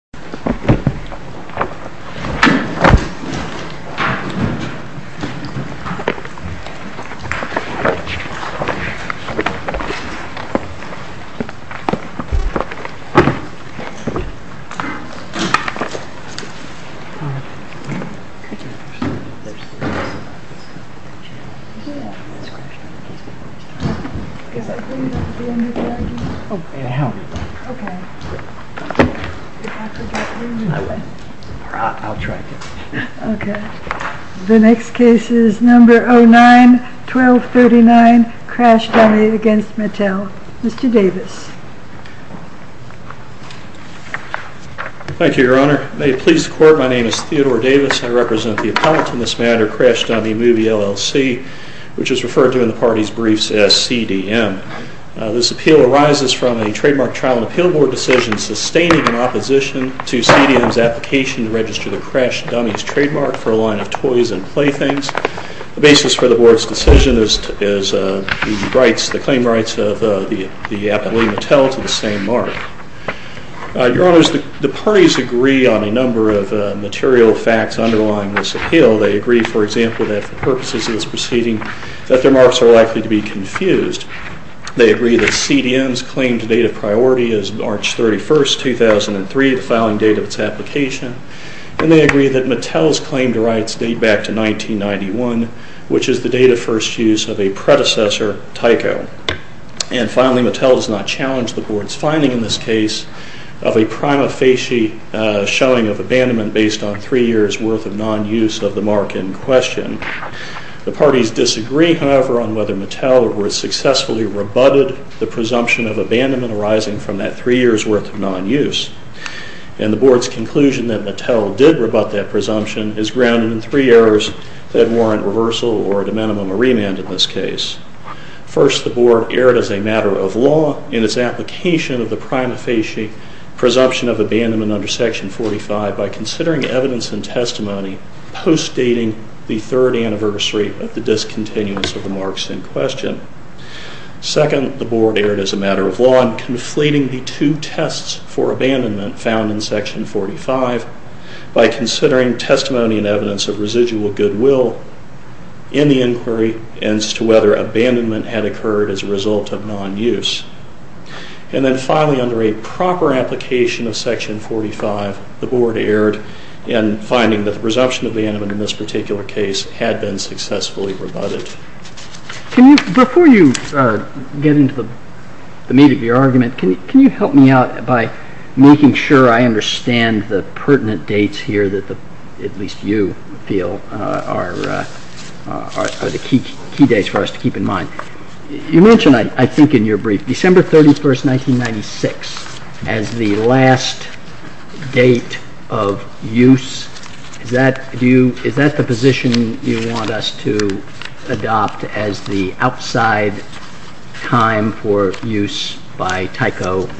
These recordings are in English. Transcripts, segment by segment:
Uniform of Mattel Um There's... Yeah Because I put it back at the end of the room Oh, hey it helped Ok Ok I went Or I'll try again Ok The next case is number 09-1239 Crash Dummy against Mattel Mr. Davis Thank you your honor May it please the court My name is Theodore Davis I represent the appellate in this matter Crash Dummy Movie LLC Which is referred to in the party's briefs as CDM This appeal arises from a trademark trial and appeal board decision sustaining an opposition to CDM's application to register the Crash Dummies trademark for a line of toys and playthings The basis for the board's decision is is the rights, the claim rights of the appellee Mattel to the same mark Your honors, the parties agree on a number of material facts underlying this appeal They agree, for example, that for purposes of this proceeding that their marks are likely to be confused They agree that CDM's claim to date of priority is March 31st, 2003 the filing date of its application And they agree that Mattel's claim to rights date back to 1991 which is the date of first use of a predecessor Tyco And finally, Mattel does not challenge the board's finding in this case of a prima facie showing of abandonment based on three years worth of non-use of the mark in question The parties disagree, however, on whether Mattel was successfully rebutted the presumption of abandonment arising from that three years worth of non-use And the board's conclusion that Mattel did rebut that presumption is grounded in three errors that warrant reversal or at a minimum, a remand in this case First, the board erred as a matter of law in its application of the prima facie presumption of abandonment under Section 45 by considering evidence and testimony post-dating the third anniversary of the discontinuous of the marks in question Second, the board erred as a matter of law in conflating the two tests for abandonment found in Section 45 by considering testimony and evidence of residual goodwill in the inquiry as to whether abandonment had occurred as a result of non-use And then finally, under a proper application of Section 45, the board erred in finding that the presumption of abandonment in this particular case had been successfully rebutted Before you get into the meat of your argument can you help me out by making sure I understand the pertinent dates here that at least you feel are the key dates for us to keep in mind You mentioned, I think in your brief December 31st, 1996 as the last date of use Is that the position you want us to adopt as the outside time for use by Tyco?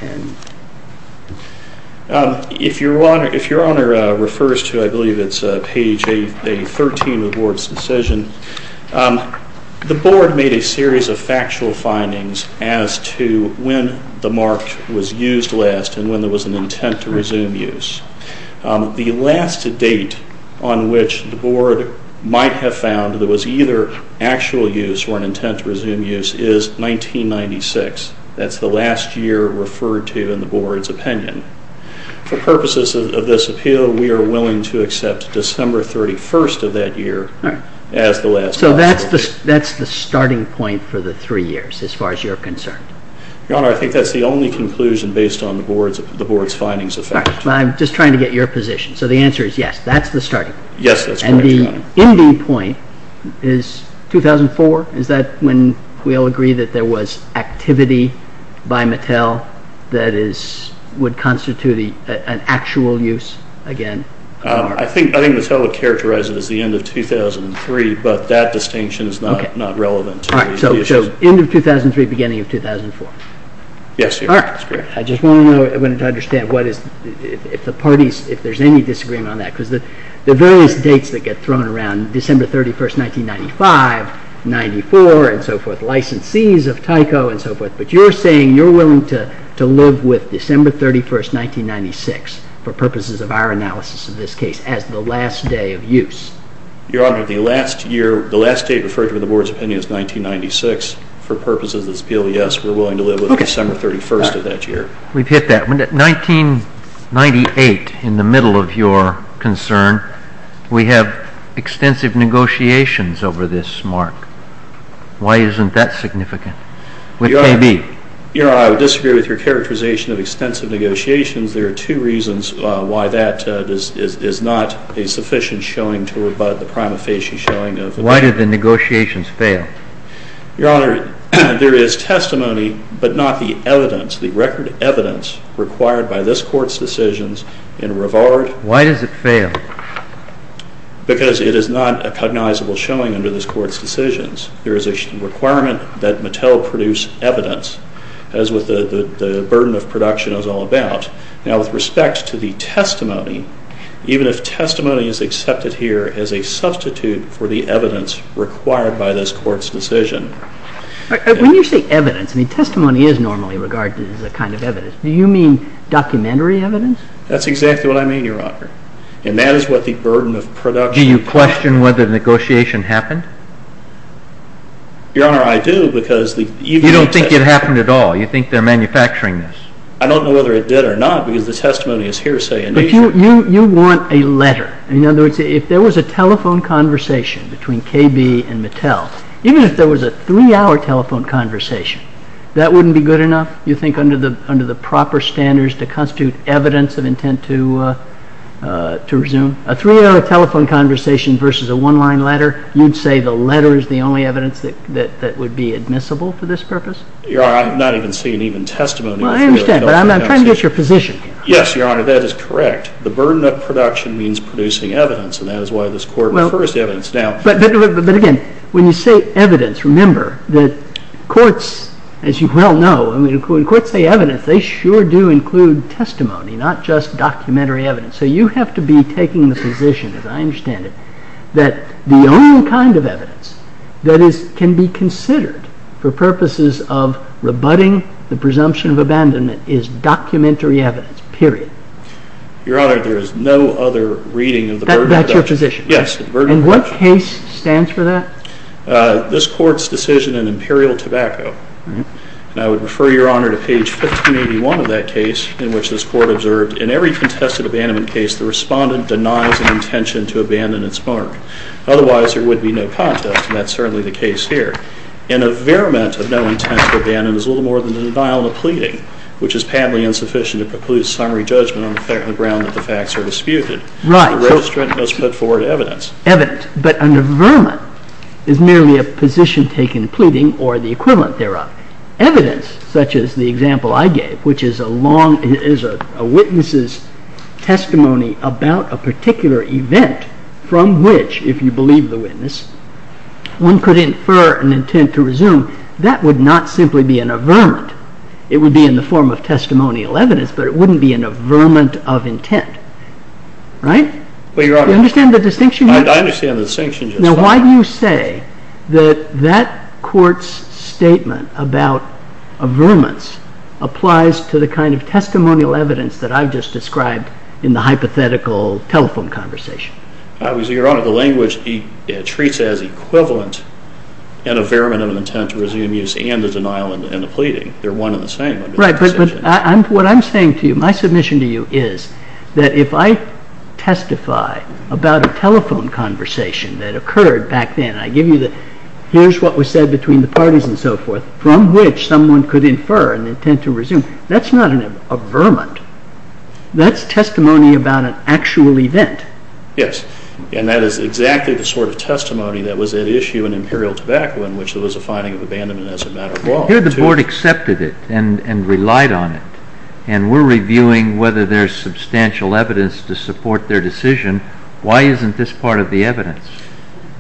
If your honor refers to, I believe it's page 13 of the board's decision The board made a series of factual findings as to when the mark was used last and when there was an intent to resume use The last date on which the board might have found there was either actual use or an intent to resume use is 1996 That's the last year referred to in the board's opinion For purposes of this appeal we are willing to accept December 31st of that year as the last date So that's the starting point for the three years as far as you're concerned Your honor, I think that's the only conclusion based on the board's findings of fact I'm just trying to get your position So the answer is yes, that's the starting point Yes, that's correct, your honor And the ending point is 2004 Is that when we all agree that there was activity by Mattel that would constitute an actual use again? I think Mattel would characterize it as the end of 2003 but that distinction is not relevant to these issues So, end of 2003, beginning of 2004 Yes, your honor I just wanted to understand if there's any disagreement on that because the various dates that get thrown around December 31st, 1995, 94 and so forth licensees of Tyco and so forth but you're saying you're willing to live with December 31st, 1996 for purposes of our analysis of this case as the last day of use Your honor, the last date referred to in the board's opinion is 1996 For purposes of this appeal, yes We're willing to live with December 31st of that year We've hit that 1998, in the middle of your concern we have extensive negotiations over this mark Why isn't that significant? With KB Your honor, I would disagree with your characterization of extensive negotiations There are two reasons why that is not a sufficient showing to rebut the prima facie showing of the Why did the negotiations fail? Your honor, there is testimony, but not the evidence the record evidence required by this court's decisions in reward Why does it fail? Because it is not a cognizable showing under this court's decisions There is a requirement that Mattel produce evidence as with the burden of production is all about Now, with respect to the testimony Even if testimony is accepted here as a substitute for the evidence required by this court's decision When you say evidence, I mean, testimony is normally regarded as a kind of evidence Do you mean documentary evidence? That's exactly what I mean, your honor And that is what the burden of production Do you question whether the negotiation happened? Your honor, I do because You don't think it happened at all? You think they're manufacturing this? You want a letter In other words, if there was a telephone conversation between KB and Mattel Even if there was a three-hour telephone conversation That wouldn't be good enough? You think under the proper standards to constitute evidence of intent to resume? A three-hour telephone conversation versus a one-line letter You'd say the letter is the only evidence that would be admissible for this purpose? Your honor, I'm not even seeing even testimony Well, I understand, but I'm trying to get your position Yes, your honor, that is correct The burden of production means producing evidence And that is why this court refers to evidence now But again, when you say evidence Remember that courts, as you well know When courts say evidence, they sure do include testimony Not just documentary evidence So you have to be taking the position, as I understand it That the only kind of evidence that can be considered For purposes of rebutting the presumption of abandonment Is documentary evidence, period Your honor, there is no other reading of the burden of production That's your position? Yes, the burden of production And what case stands for that? This court's decision in Imperial Tobacco And I would refer your honor to page 1581 of that case In which this court observed In every contested abandonment case The respondent denies an intention to abandon its mark Otherwise, there would be no contest And that's certainly the case here In a verment of no intent to abandon Is a little more than a denial of pleading Which is patently insufficient to preclude summary judgment On the ground that the facts are disputed Right The registrant must put forward evidence Evidence, but under verment Is merely a position taken in pleading Or the equivalent thereof Evidence, such as the example I gave Which is a long, is a witness's testimony About a particular event From which, if you believe the witness One could infer an intent to resume That would not simply be an averment It would be in the form of testimonial evidence But it wouldn't be an averment of intent Right? Well, your honor Do you understand the distinction? I understand the distinction Now why do you say That that court's statement about averments Applies to the kind of testimonial evidence That I've just described In the hypothetical telephone conversation Well, your honor The language treats it as equivalent In averment of an intent to resume use And a denial in the pleading They're one and the same Right, but what I'm saying to you My submission to you is That if I testify About a telephone conversation That occurred back then I give you the Here's what was said between the parties and so forth From which someone could infer an intent to resume That's not an averment That's testimony about an actual event Yes And that is exactly the sort of testimony That was at issue in Imperial Tobacco In which there was a finding of abandonment As a matter of law Here the board accepted it And relied on it And we're reviewing Whether there's substantial evidence To support their decision Why isn't this part of the evidence?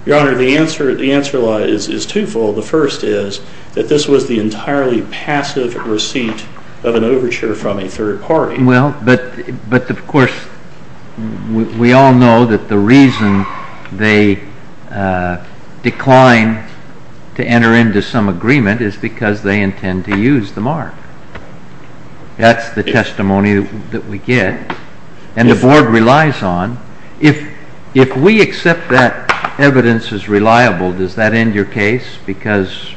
Your honor, the answer The answer is twofold The first is That this was the entirely passive receipt Of an overture from a third party Well, but of course We all know that the reason They decline To enter into some agreement Is because they intend to use the mark That's the testimony that we get And the board relies on If we accept that evidence is reliable Does that end your case? Because,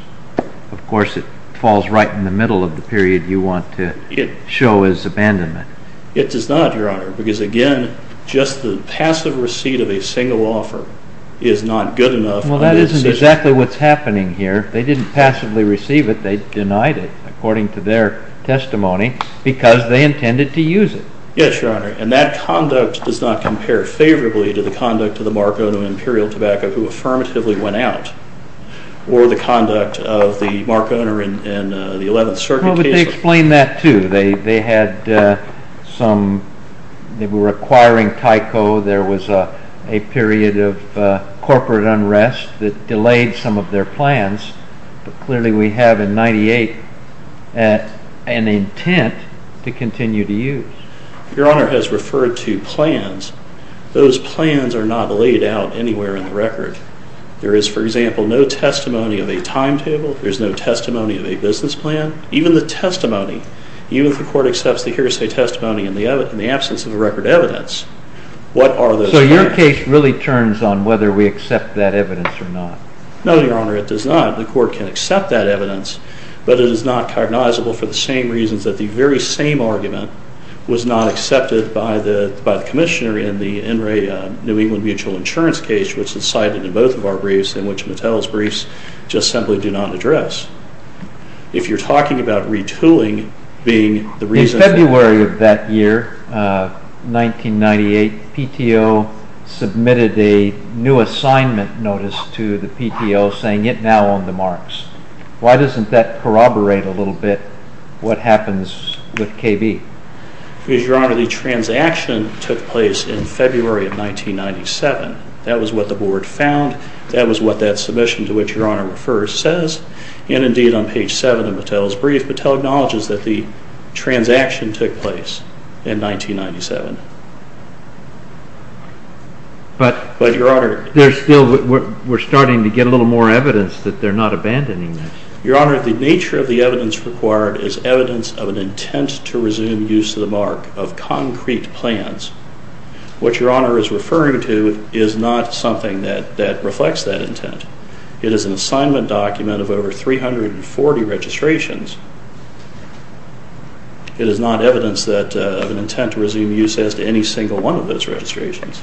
of course It falls right in the middle of the period You want to show as abandonment It does not, your honor Because, again Just the passive receipt of a single offer Is not good enough Well, that isn't exactly what's happening here They didn't passively receive it They denied it According to their testimony Because they intended to use it Yes, your honor And that conduct does not compare favorably To the conduct of the mark owner In Imperial Tobacco Who affirmatively went out Or the conduct of the mark owner In the 11th Circuit case Well, but they explain that too They had some They were acquiring Tyco There was a period of corporate unrest That delayed some of their plans But clearly we have in 98 An intent to continue to use Your honor has referred to plans Those plans are not laid out anywhere in the record There is, for example No testimony of a timetable There's no testimony of a business plan Even the testimony Even if the court accepts the hearsay testimony In the absence of the record evidence What are those plans? So your case really turns on Whether we accept that evidence or not No, your honor, it does not The court can accept that evidence But it is not cognizable For the same reasons That the very same argument Was not accepted by the commissioner In the NRA New England Mutual Insurance case Which is cited in both of our briefs In which Mattel's briefs Just simply do not address If you're talking about retooling Being the reason In February of that year 1998 PTO submitted a new assignment notice To the PTO Saying it now owned the marks Why doesn't that corroborate a little bit What happens with KB? Because your honor, the transaction Took place in February of 1997 That was what the board found That was what that submission To which your honor refers Says, and indeed on page 7 Of Mattel's brief Mattel acknowledges that the transaction Took place in 1997 But your honor There's still We're starting to get a little more evidence That they're not abandoning that Your honor, the nature of the evidence required Is evidence of an intent To resume use of the mark Of concrete plans What your honor is referring to Is not something that reflects that intent It is an assignment document Of over 340 registrations It is not evidence Of an intent to resume use As to any single one of those registrations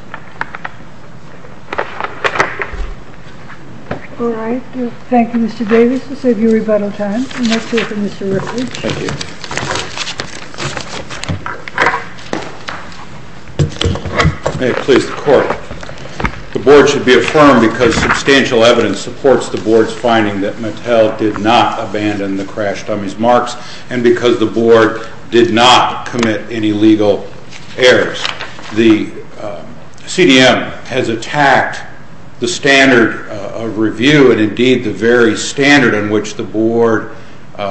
All right Thank you Mr. Davis To save you rebuttal time Next we have Mr. Ripley Thank you May it please the court The board should be affirmed Because substantial evidence Supports the board's finding That Mattel did not abandon The crash dummies marks And because the board Did not commit any legal errors The CDM has attacked The standard of review And indeed the very standard On which the board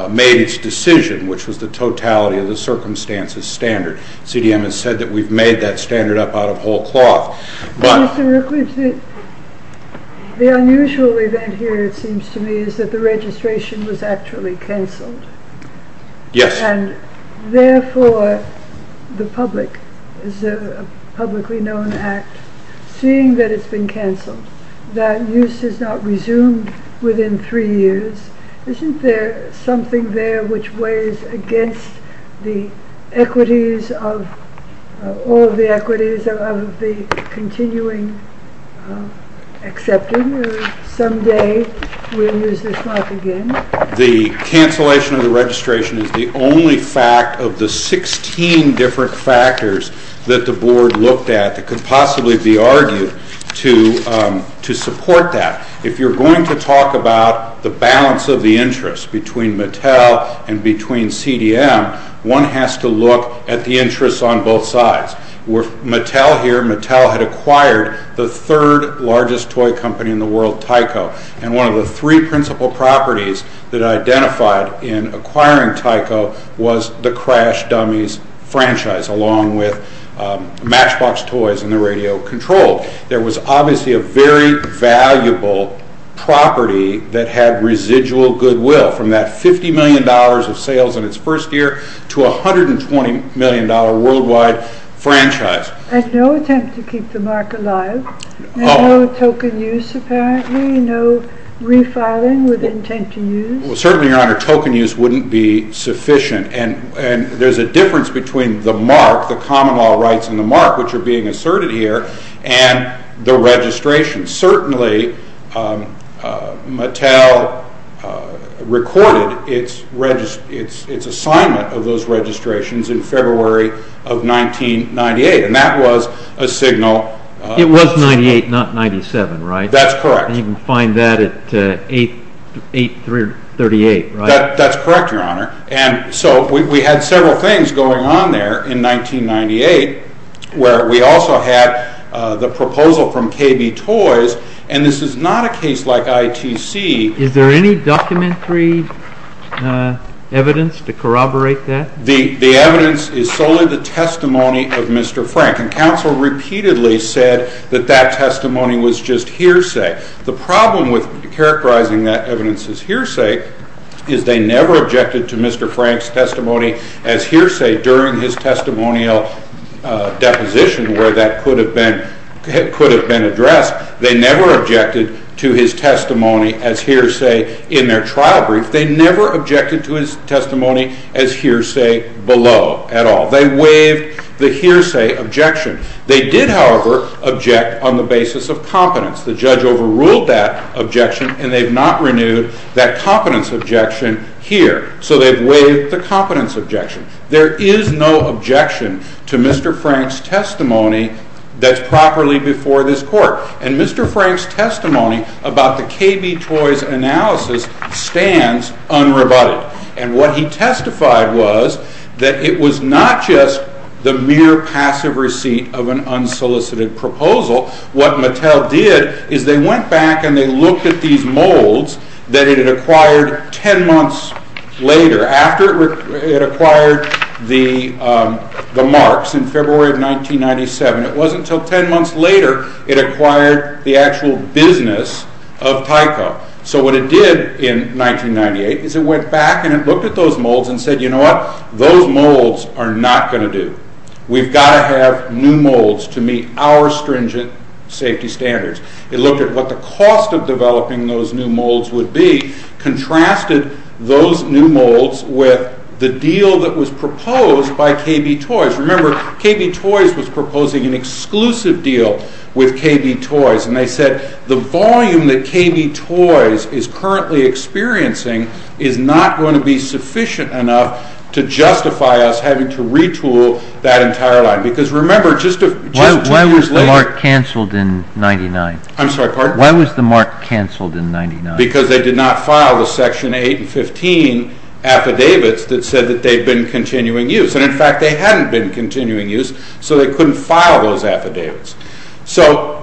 made its decision Which was the totality Of the circumstances standard CDM has said that we've made that standard Up out of whole cloth Mr. Ripley The unusual event here It seems to me Is that the registration Was actually cancelled Yes And therefore The public Is a publicly known act Seeing that it's been cancelled That use is not resumed Within three years Isn't there something there Which weighs against the equities Of all the equities Is there of the continuing Accepting Someday we'll use this mark again The cancellation of the registration Is the only fact Of the 16 different factors That the board looked at That could possibly be argued To support that If you're going to talk about The balance of the interest Between Mattel and between CDM One has to look at the interest On both sides Mattel here Mattel had acquired The third largest toy company In the world Tyco And one of the three principal properties That identified In acquiring Tyco Was the Crash Dummies franchise Along with Matchbox Toys And the Radio Control There was obviously A very valuable property That had residual goodwill From that $50 million of sales In its first year To a $120 million worldwide Franchise There's no attempt To keep the mark alive There's no token use apparently No refiling with intent to use Certainly your honor Token use wouldn't be sufficient And there's a difference Between the mark The common law rights in the mark Which are being asserted here And the registration Certainly Mattel Recorded its assignment Of those registrations In February of 1998 And that was a signal It was 98 not 97 right? That's correct And you can find that At 838 right? That's correct your honor And so we had several things Going on there in 1998 Where we also had The proposal from KB Toys And this is not a case like ITC Is there any documentary evidence To corroborate that? The evidence is solely the testimony Of Mr. Frank And counsel repeatedly said That that testimony was just hearsay The problem with characterizing That evidence as hearsay Is they never objected To Mr. Frank's testimony as hearsay During his testimonial deposition Where that could have been addressed As hearsay in their trial brief They never objected to his testimony As hearsay below at all They waived the hearsay objection They did however object On the basis of competence The judge overruled that objection And they've not renewed That competence objection here So they've waived the competence objection There is no objection To Mr. Frank's testimony That's properly before this court And Mr. Frank's testimony About the KB Toys analysis Stands unrebutted And what he testified was That it was not just The mere passive receipt Of an unsolicited proposal What Mattel did Is they went back And they looked at these molds That it had acquired Ten months later After it acquired The Marks In February of 1997 It wasn't until ten months later It acquired the actual business Of Tyco So what it did in 1998 Is it went back And it looked at those molds And said you know what Those molds are not going to do We've got to have new molds To meet our stringent safety standards It looked at what the cost Of developing those new molds would be Contrasted those new molds With the deal that was proposed By KB Toys Remember KB Toys was proposing An exclusive deal with KB Toys And they said the volume That KB Toys is currently experiencing Is not going to be sufficient enough To justify us having to retool That entire line Because remember just two years later Why was the Mark cancelled in 1999? I'm sorry pardon? Why was the Mark cancelled in 1999? Because they did not file The section 8 and 15 affidavits That said that they had been Continuing use And in fact they hadn't been Continuing use So they couldn't file those affidavits So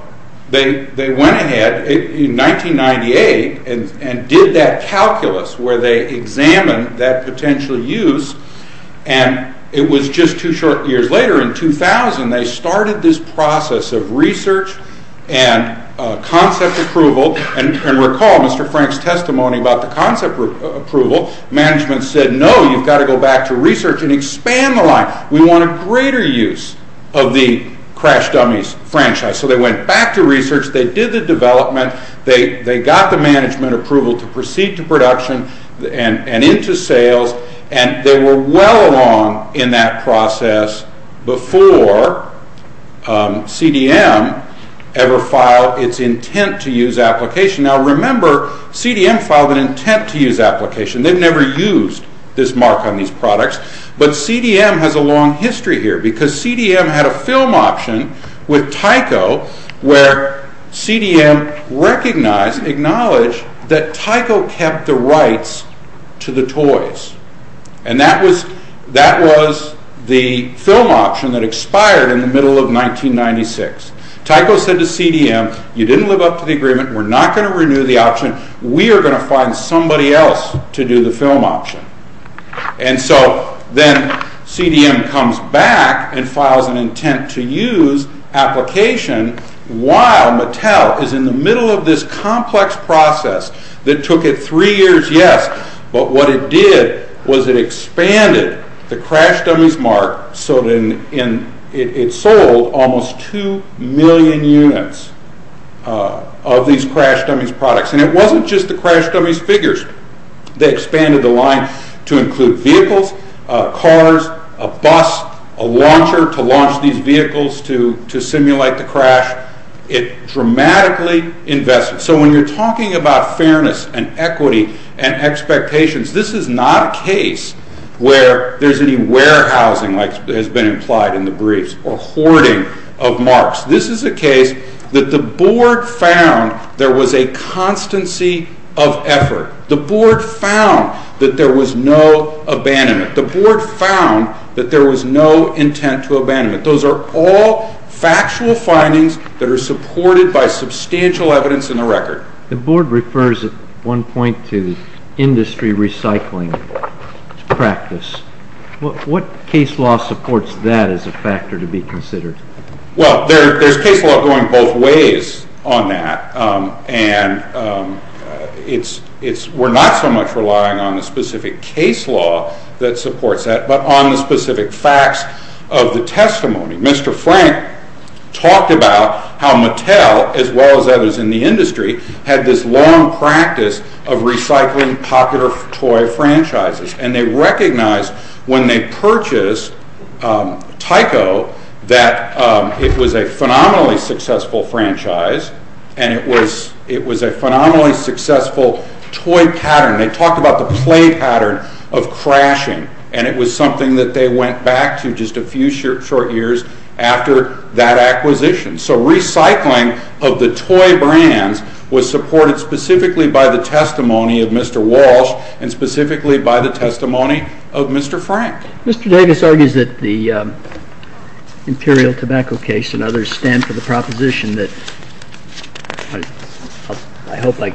they went ahead In 1998 And did that calculus Where they examined that potential use And it was just two short years later In 2000 they started this process Of research and concept approval And recall Mr. Frank's testimony About the concept approval Management said no You've got to go back to research And expand the line We want a greater use Of the Crash Dummies franchise So they went back to research They did the development They got the management approval To proceed to production And into sales And they were well along In that process Before CDM ever filed Its intent to use application Now remember CDM filed An intent to use application They've never used this Mark On these products But CDM has a long history here Because CDM had a film option With Tyco Where CDM recognized Acknowledged that Tyco kept the rights To the toys And that was the film option That expired in the middle of 1996 Tyco said to CDM You didn't live up to the agreement We're not going to renew the option We are going to find somebody else To do the film option And so then CDM comes back And files an intent to use application While Mattel is in the middle Of this complex process That took it three years Yes, but what it did Was it expanded the Crash Dummies Mark So it sold almost 2 million units Of these Crash Dummies products And it wasn't just the Crash Dummies figures They expanded the line To include vehicles, cars, a bus A launcher to launch these vehicles To simulate the crash It dramatically invested So when you're talking about fairness And equity and expectations This is not a case Where there's any warehousing Like has been implied in the briefs Or hoarding of marks This is a case that the board found There was a constancy of effort The board found that there was no abandonment The board found that there was no intent to abandonment That those are all factual findings That are supported by substantial evidence in the record The board refers at one point To industry recycling practice What case law supports that As a factor to be considered? Well, there's case law going both ways on that And we're not so much relying On the specific case law that supports that But on the specific facts of the testimony Mr. Frank talked about how Mattel As well as others in the industry Had this long practice of recycling popular toy franchises And they recognized when they purchased Tyco That it was a phenomenally successful franchise And it was a phenomenally successful toy pattern They talked about the play pattern of crashing And it was something that they went back to Just a few short years after that acquisition So recycling of the toy brands Was supported specifically by the testimony of Mr. Walsh And specifically by the testimony of Mr. Frank Mr. Davis argues that the Imperial Tobacco case And others stand for the proposition that I hope I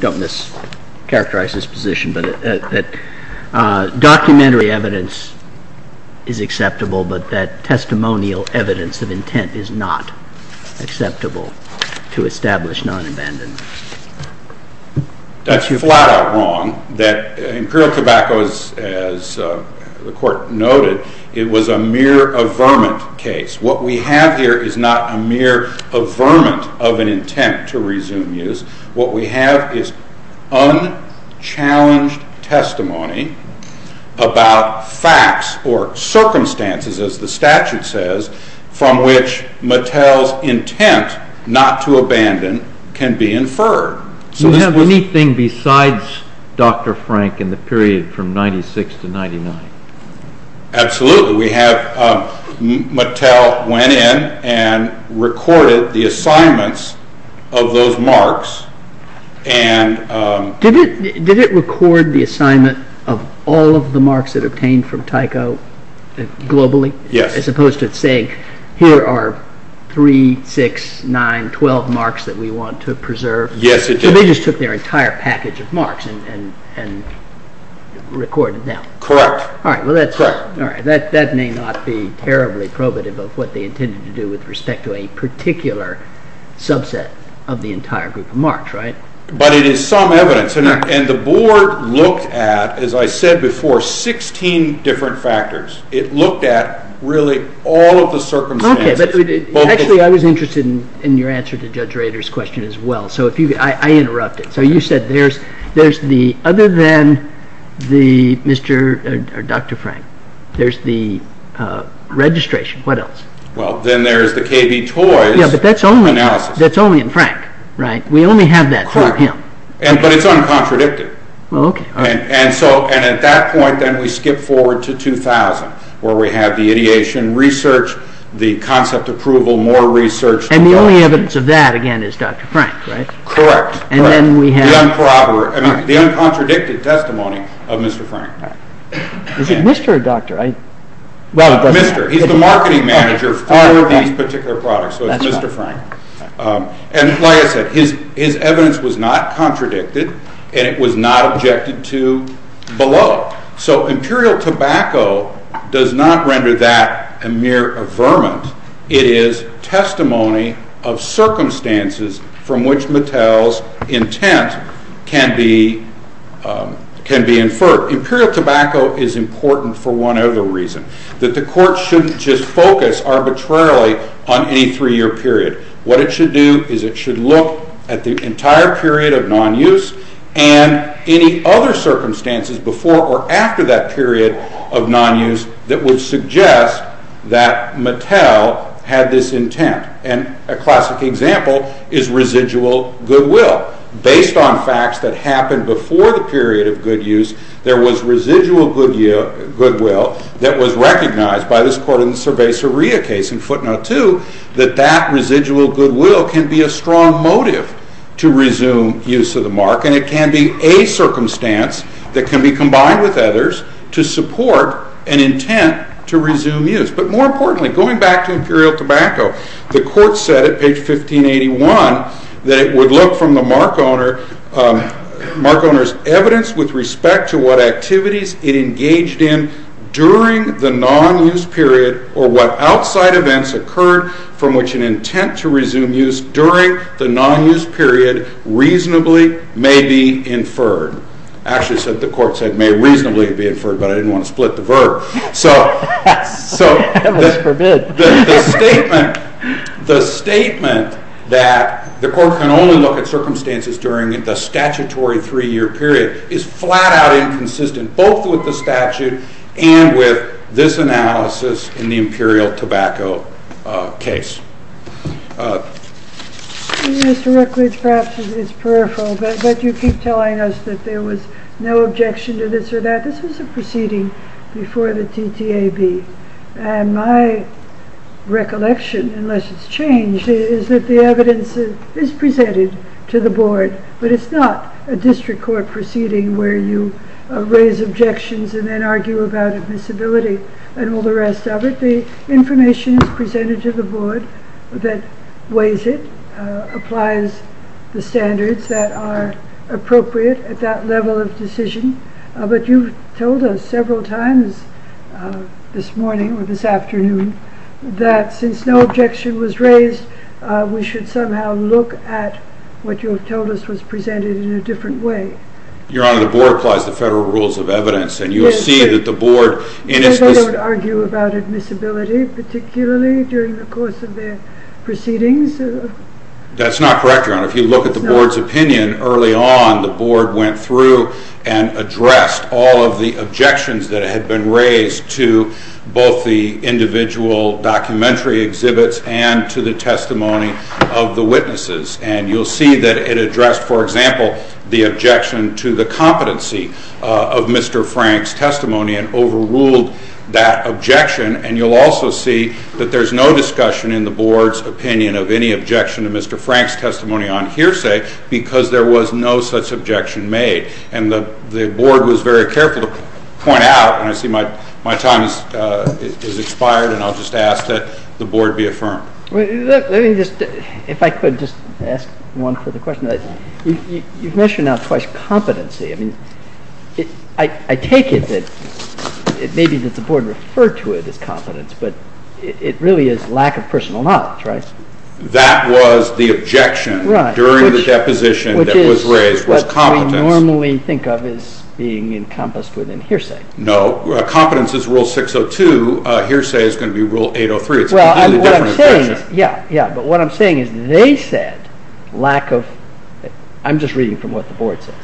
don't mischaracterize this position That documentary evidence is acceptable But that testimonial evidence of intent is not acceptable To establish non-abandonment That's flat out wrong That Imperial Tobacco, as the court noted It was a mere averment case What we have here is not a mere averment Of an intent to resume use What we have is unchallenged testimony About facts or circumstances As the statute says From which Mattel's intent not to abandon Can be inferred Do you have anything besides Dr. Frank In the period from 96 to 99? Absolutely Mattel went in and recorded the assignments Of those marks Did it record the assignment of all of the marks That it obtained from Tyco globally? Yes As opposed to saying Here are 3, 6, 9, 12 marks that we want to preserve? Yes it did So they just took their entire package of marks And recorded them? Correct That may not be terribly probative Of what they intended to do With respect to a particular subset Of the entire group of marks But it is some evidence And the board looked at As I said before 16 different factors It looked at really all of the circumstances Actually I was interested in your answer To Judge Rader's question as well I interrupted So you said there's Other than Dr. Frank There's the registration What else? Then there's the KB Toys analysis That's only in Frank We only have that for him Correct But it's uncontradicted And at that point We skip forward to 2000 Where we have the ideation research The concept approval More research And the only evidence of that again Is Dr. Frank Correct The uncontradicted testimony of Mr. Frank Is it Mr. or Dr.? Mr. He's the marketing manager For these particular products So it's Mr. Frank And like I said His evidence was not contradicted And it was not objected to below So Imperial Tobacco Does not render that a mere affirment It is testimony of circumstances From which Mattel's intent Can be inferred Imperial Tobacco is important For one other reason That the court shouldn't just focus Arbitrarily on any three-year period What it should do Is it should look At the entire period of non-use And any other circumstances Before or after that period of non-use That would suggest That Mattel had this intent And a classic example Is residual goodwill Based on facts that happened Before the period of good use There was residual goodwill That was recognized By this court in the Cerveza-Ria case In footnote 2 That that residual goodwill Can be a strong motive To resume use of the mark And it can be a circumstance That can be combined with others To support an intent To resume use But more importantly Going back to Imperial Tobacco The court said at page 1581 That it would look from the mark owner Mark owner's evidence With respect to what activities It engaged in During the non-use period Or what outside events Occurred from which An intent to resume use During the non-use period Reasonably may be inferred Actually the court said May reasonably be inferred But I didn't want to split the verb So the statement The statement that The court can only look at circumstances During the statutory three-year period Is flat out inconsistent Both with the statute And with this analysis In the Imperial Tobacco case Mr. Rookwood Perhaps it's peripheral But you keep telling us That there was no objection To this or that This was a proceeding Before the TTAB And my recollection Unless it's changed Is that the evidence Is presented to the board But it's not a district court proceeding Where you raise objections And then argue about admissibility And all the rest of it The information is presented to the board That weighs it Applies the standards That are appropriate At that level of decision But you've told us Several times this morning Or this afternoon That since no objection was raised We should somehow look at What you've told us Was presented in a different way Your Honor, the board Applies the federal rules of evidence And you'll see that the board Does the board argue about admissibility Particularly during the course of their proceedings? That's not correct, Your Honor If you look at the board's opinion Early on the board went through And addressed all of the objections That had been raised To both the individual documentary exhibits And to the testimony of the witnesses And you'll see that it addressed For example The objection to the competency Of Mr. Frank's testimony And overruled that objection And you'll also see That there's no discussion In the board's opinion Of any objection to Mr. Frank's testimony On hearsay Because there was no such objection made And the board was very careful To point out And I see my time has expired And I'll just ask that the board be affirmed Let me just If I could just ask one further question You've mentioned now twice competency I mean I take it that Maybe that the board referred to it as competence But it really is lack of personal knowledge, right? That was the objection Right During the deposition That was raised Was competence Which is what we normally think of As being encompassed within hearsay No, competence is rule 602 Hearsay is going to be rule 803 It's a completely different objection Well, what I'm saying Yeah, yeah But what I'm saying is They said lack of I'm just reading from what the board says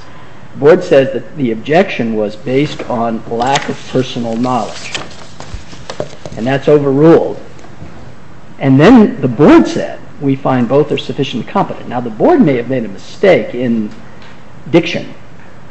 The board says that the objection Was based on lack of personal knowledge And that's overruled And then the board said We find both are sufficiently competent Now the board may have made a mistake In diction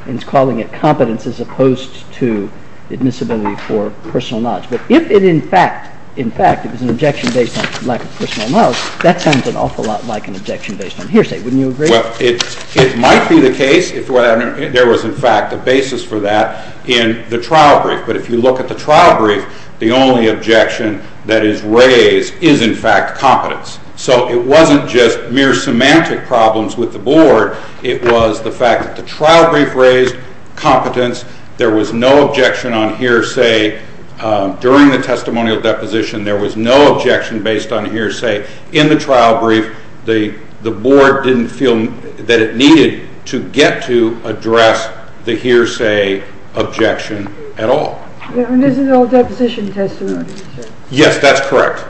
In calling it competence As opposed to admissibility for personal knowledge But if it in fact In fact It was an objection based on lack of personal knowledge That sounds an awful lot like an objection Based on hearsay Wouldn't you agree? Well, it might be the case If there was in fact a basis for that In the trial brief But if you look at the trial brief The only objection that is raised Is in fact competence So it wasn't just mere semantic problems with the board It was the fact that the trial brief raised Competence There was no objection on hearsay During the testimonial deposition There was no objection based on hearsay In the trial brief The board didn't feel that it needed To get to address the hearsay objection at all And this is all deposition testimony Yes, that's correct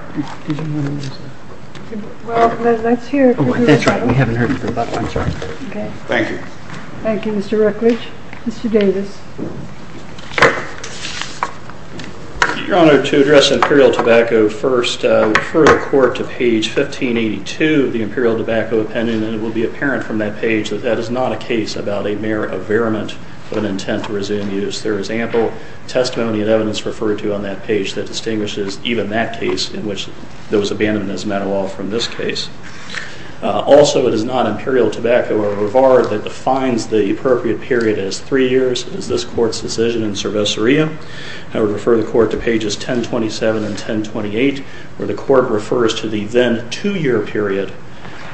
Well, let's hear That's right, we haven't heard it for a while I'm sorry Thank you Thank you, Mr. Rutledge Mr. Davis Your Honor, to address Imperial Tobacco First, I refer the court to page 1582 Of the Imperial Tobacco Opinion And it will be apparent from that page That that is not a case about a mere averiment Of an intent to resume use There is ample testimony and evidence Referred to on that page That distinguishes even that case In which there was abandonment as a matter of law From this case Also, it is not Imperial Tobacco or Rivard That defines the appropriate period as 3 years As this court's decision in Cerveceria I would refer the court to pages 1027 and 1028 Where the court refers to the then 2-year period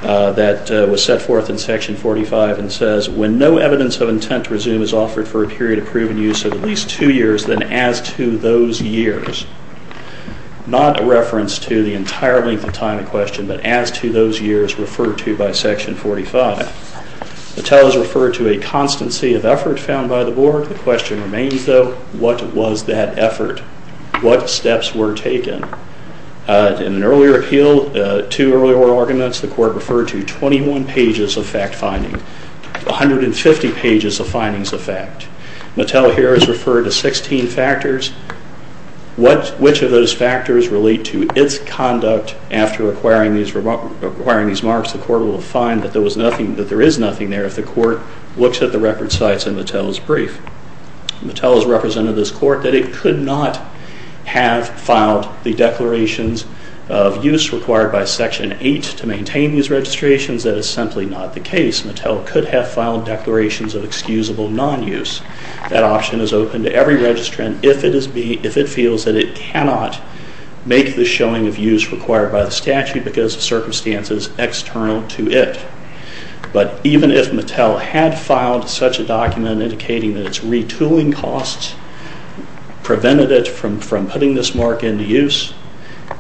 That was set forth in section 45 And says, when no evidence of intent to resume Is offered for a period of proven use Of at least 2 years Then as to those years Not a reference to the entire length of time in question But as to those years referred to by section 45 Mattel is referred to a constancy of effort Found by the board The question remains though What was that effort? What steps were taken? In an earlier appeal To earlier arguments The court referred to 21 pages of fact-finding 150 pages of findings of fact Mattel here is referred to 16 factors Which of those factors relate to its conduct After acquiring these marks The court will find that there is nothing there If the court looks at the record sites in Mattel's brief Mattel has represented this court That it could not have filed the declarations of use Required by section 8 to maintain these registrations That is simply not the case Mattel could have filed declarations of excusable non-use That option is open to every registrant If it feels that it cannot make the showing of use Required by the statute That would be because of circumstances external to it But even if Mattel had filed such a document Indicating that its retooling costs Prevented it from putting this mark into use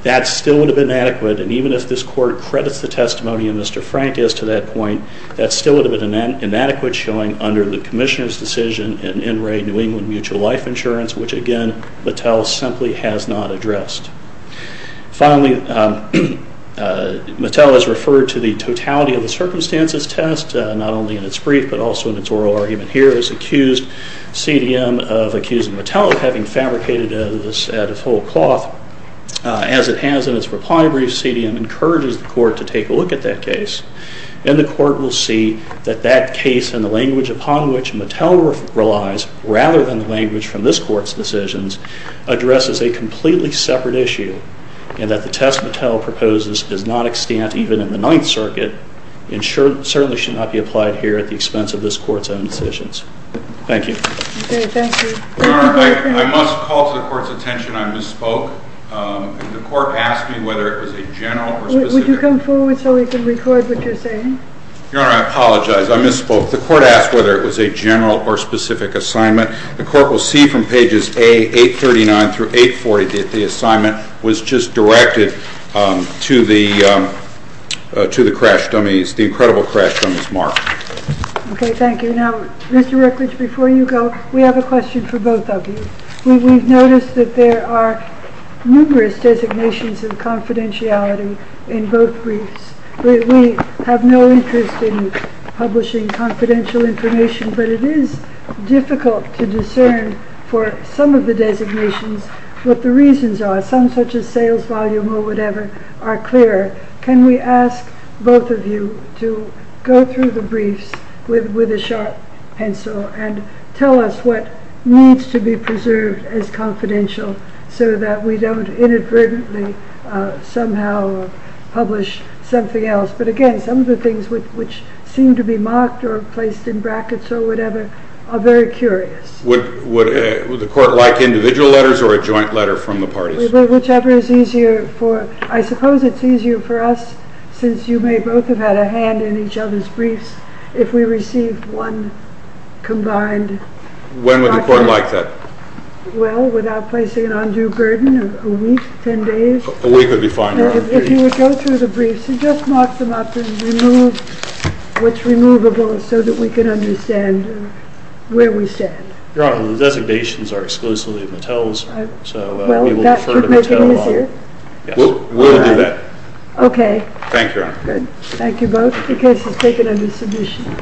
That still would have been inadequate And even if this court credits the testimony of Mr. Frank As to that point That still would have been inadequate Showing under the commissioner's decision An NRA New England mutual life insurance Which again Mattel simply has not addressed Finally, Mattel has referred to the totality of the circumstances test Not only in its brief but also in its oral argument Here is accused CDM of accusing Mattel Of having fabricated this out of whole cloth As it has in its reply brief CDM encourages the court to take a look at that case And the court will see that that case And the language upon which Mattel relies Rather than the language from this court's decisions Addresses a completely separate issue And that the test Mattel proposes Does not extend even in the Ninth Circuit And certainly should not be applied here At the expense of this court's own decisions Thank you Okay, thank you Your Honor, I must call to the court's attention I misspoke The court asked me whether it was a general or specific Would you come forward so we can record what you're saying Your Honor, I apologize, I misspoke The court asked whether it was a general or specific assignment The court will see from pages A839-840 That the assignment was just directed To the crash dummies The incredible crash dummies, Mark Okay, thank you Now, Mr. Rutledge, before you go We have a question for both of you We've noticed that there are numerous designations Of confidentiality in both briefs We have no interest in publishing confidential information But it is difficult to discern For some of the designations What the reasons are Some such as sales volume or whatever Are clear Can we ask both of you To go through the briefs With a sharp pencil And tell us what needs to be preserved As confidential So that we don't inadvertently Somehow publish something else But again, some of the things Which seem to be marked or placed in brackets Or whatever Are very curious Would the court like individual letters Or a joint letter from the parties? Whichever is easier for I suppose it's easier for us Since you may both have had a hand in each other's briefs If we received one combined When would the court like that? Well, without placing an undue burden A week, ten days A week would be fine If you would go through the briefs And just mark them up And remove what's removable So that we can understand where we stand Your Honor, the designations are exclusively Mattel's So we will defer to Mattel That would make it easier? Yes We'll do that Okay Thank you, Your Honor Good, thank you both The case is taken under submission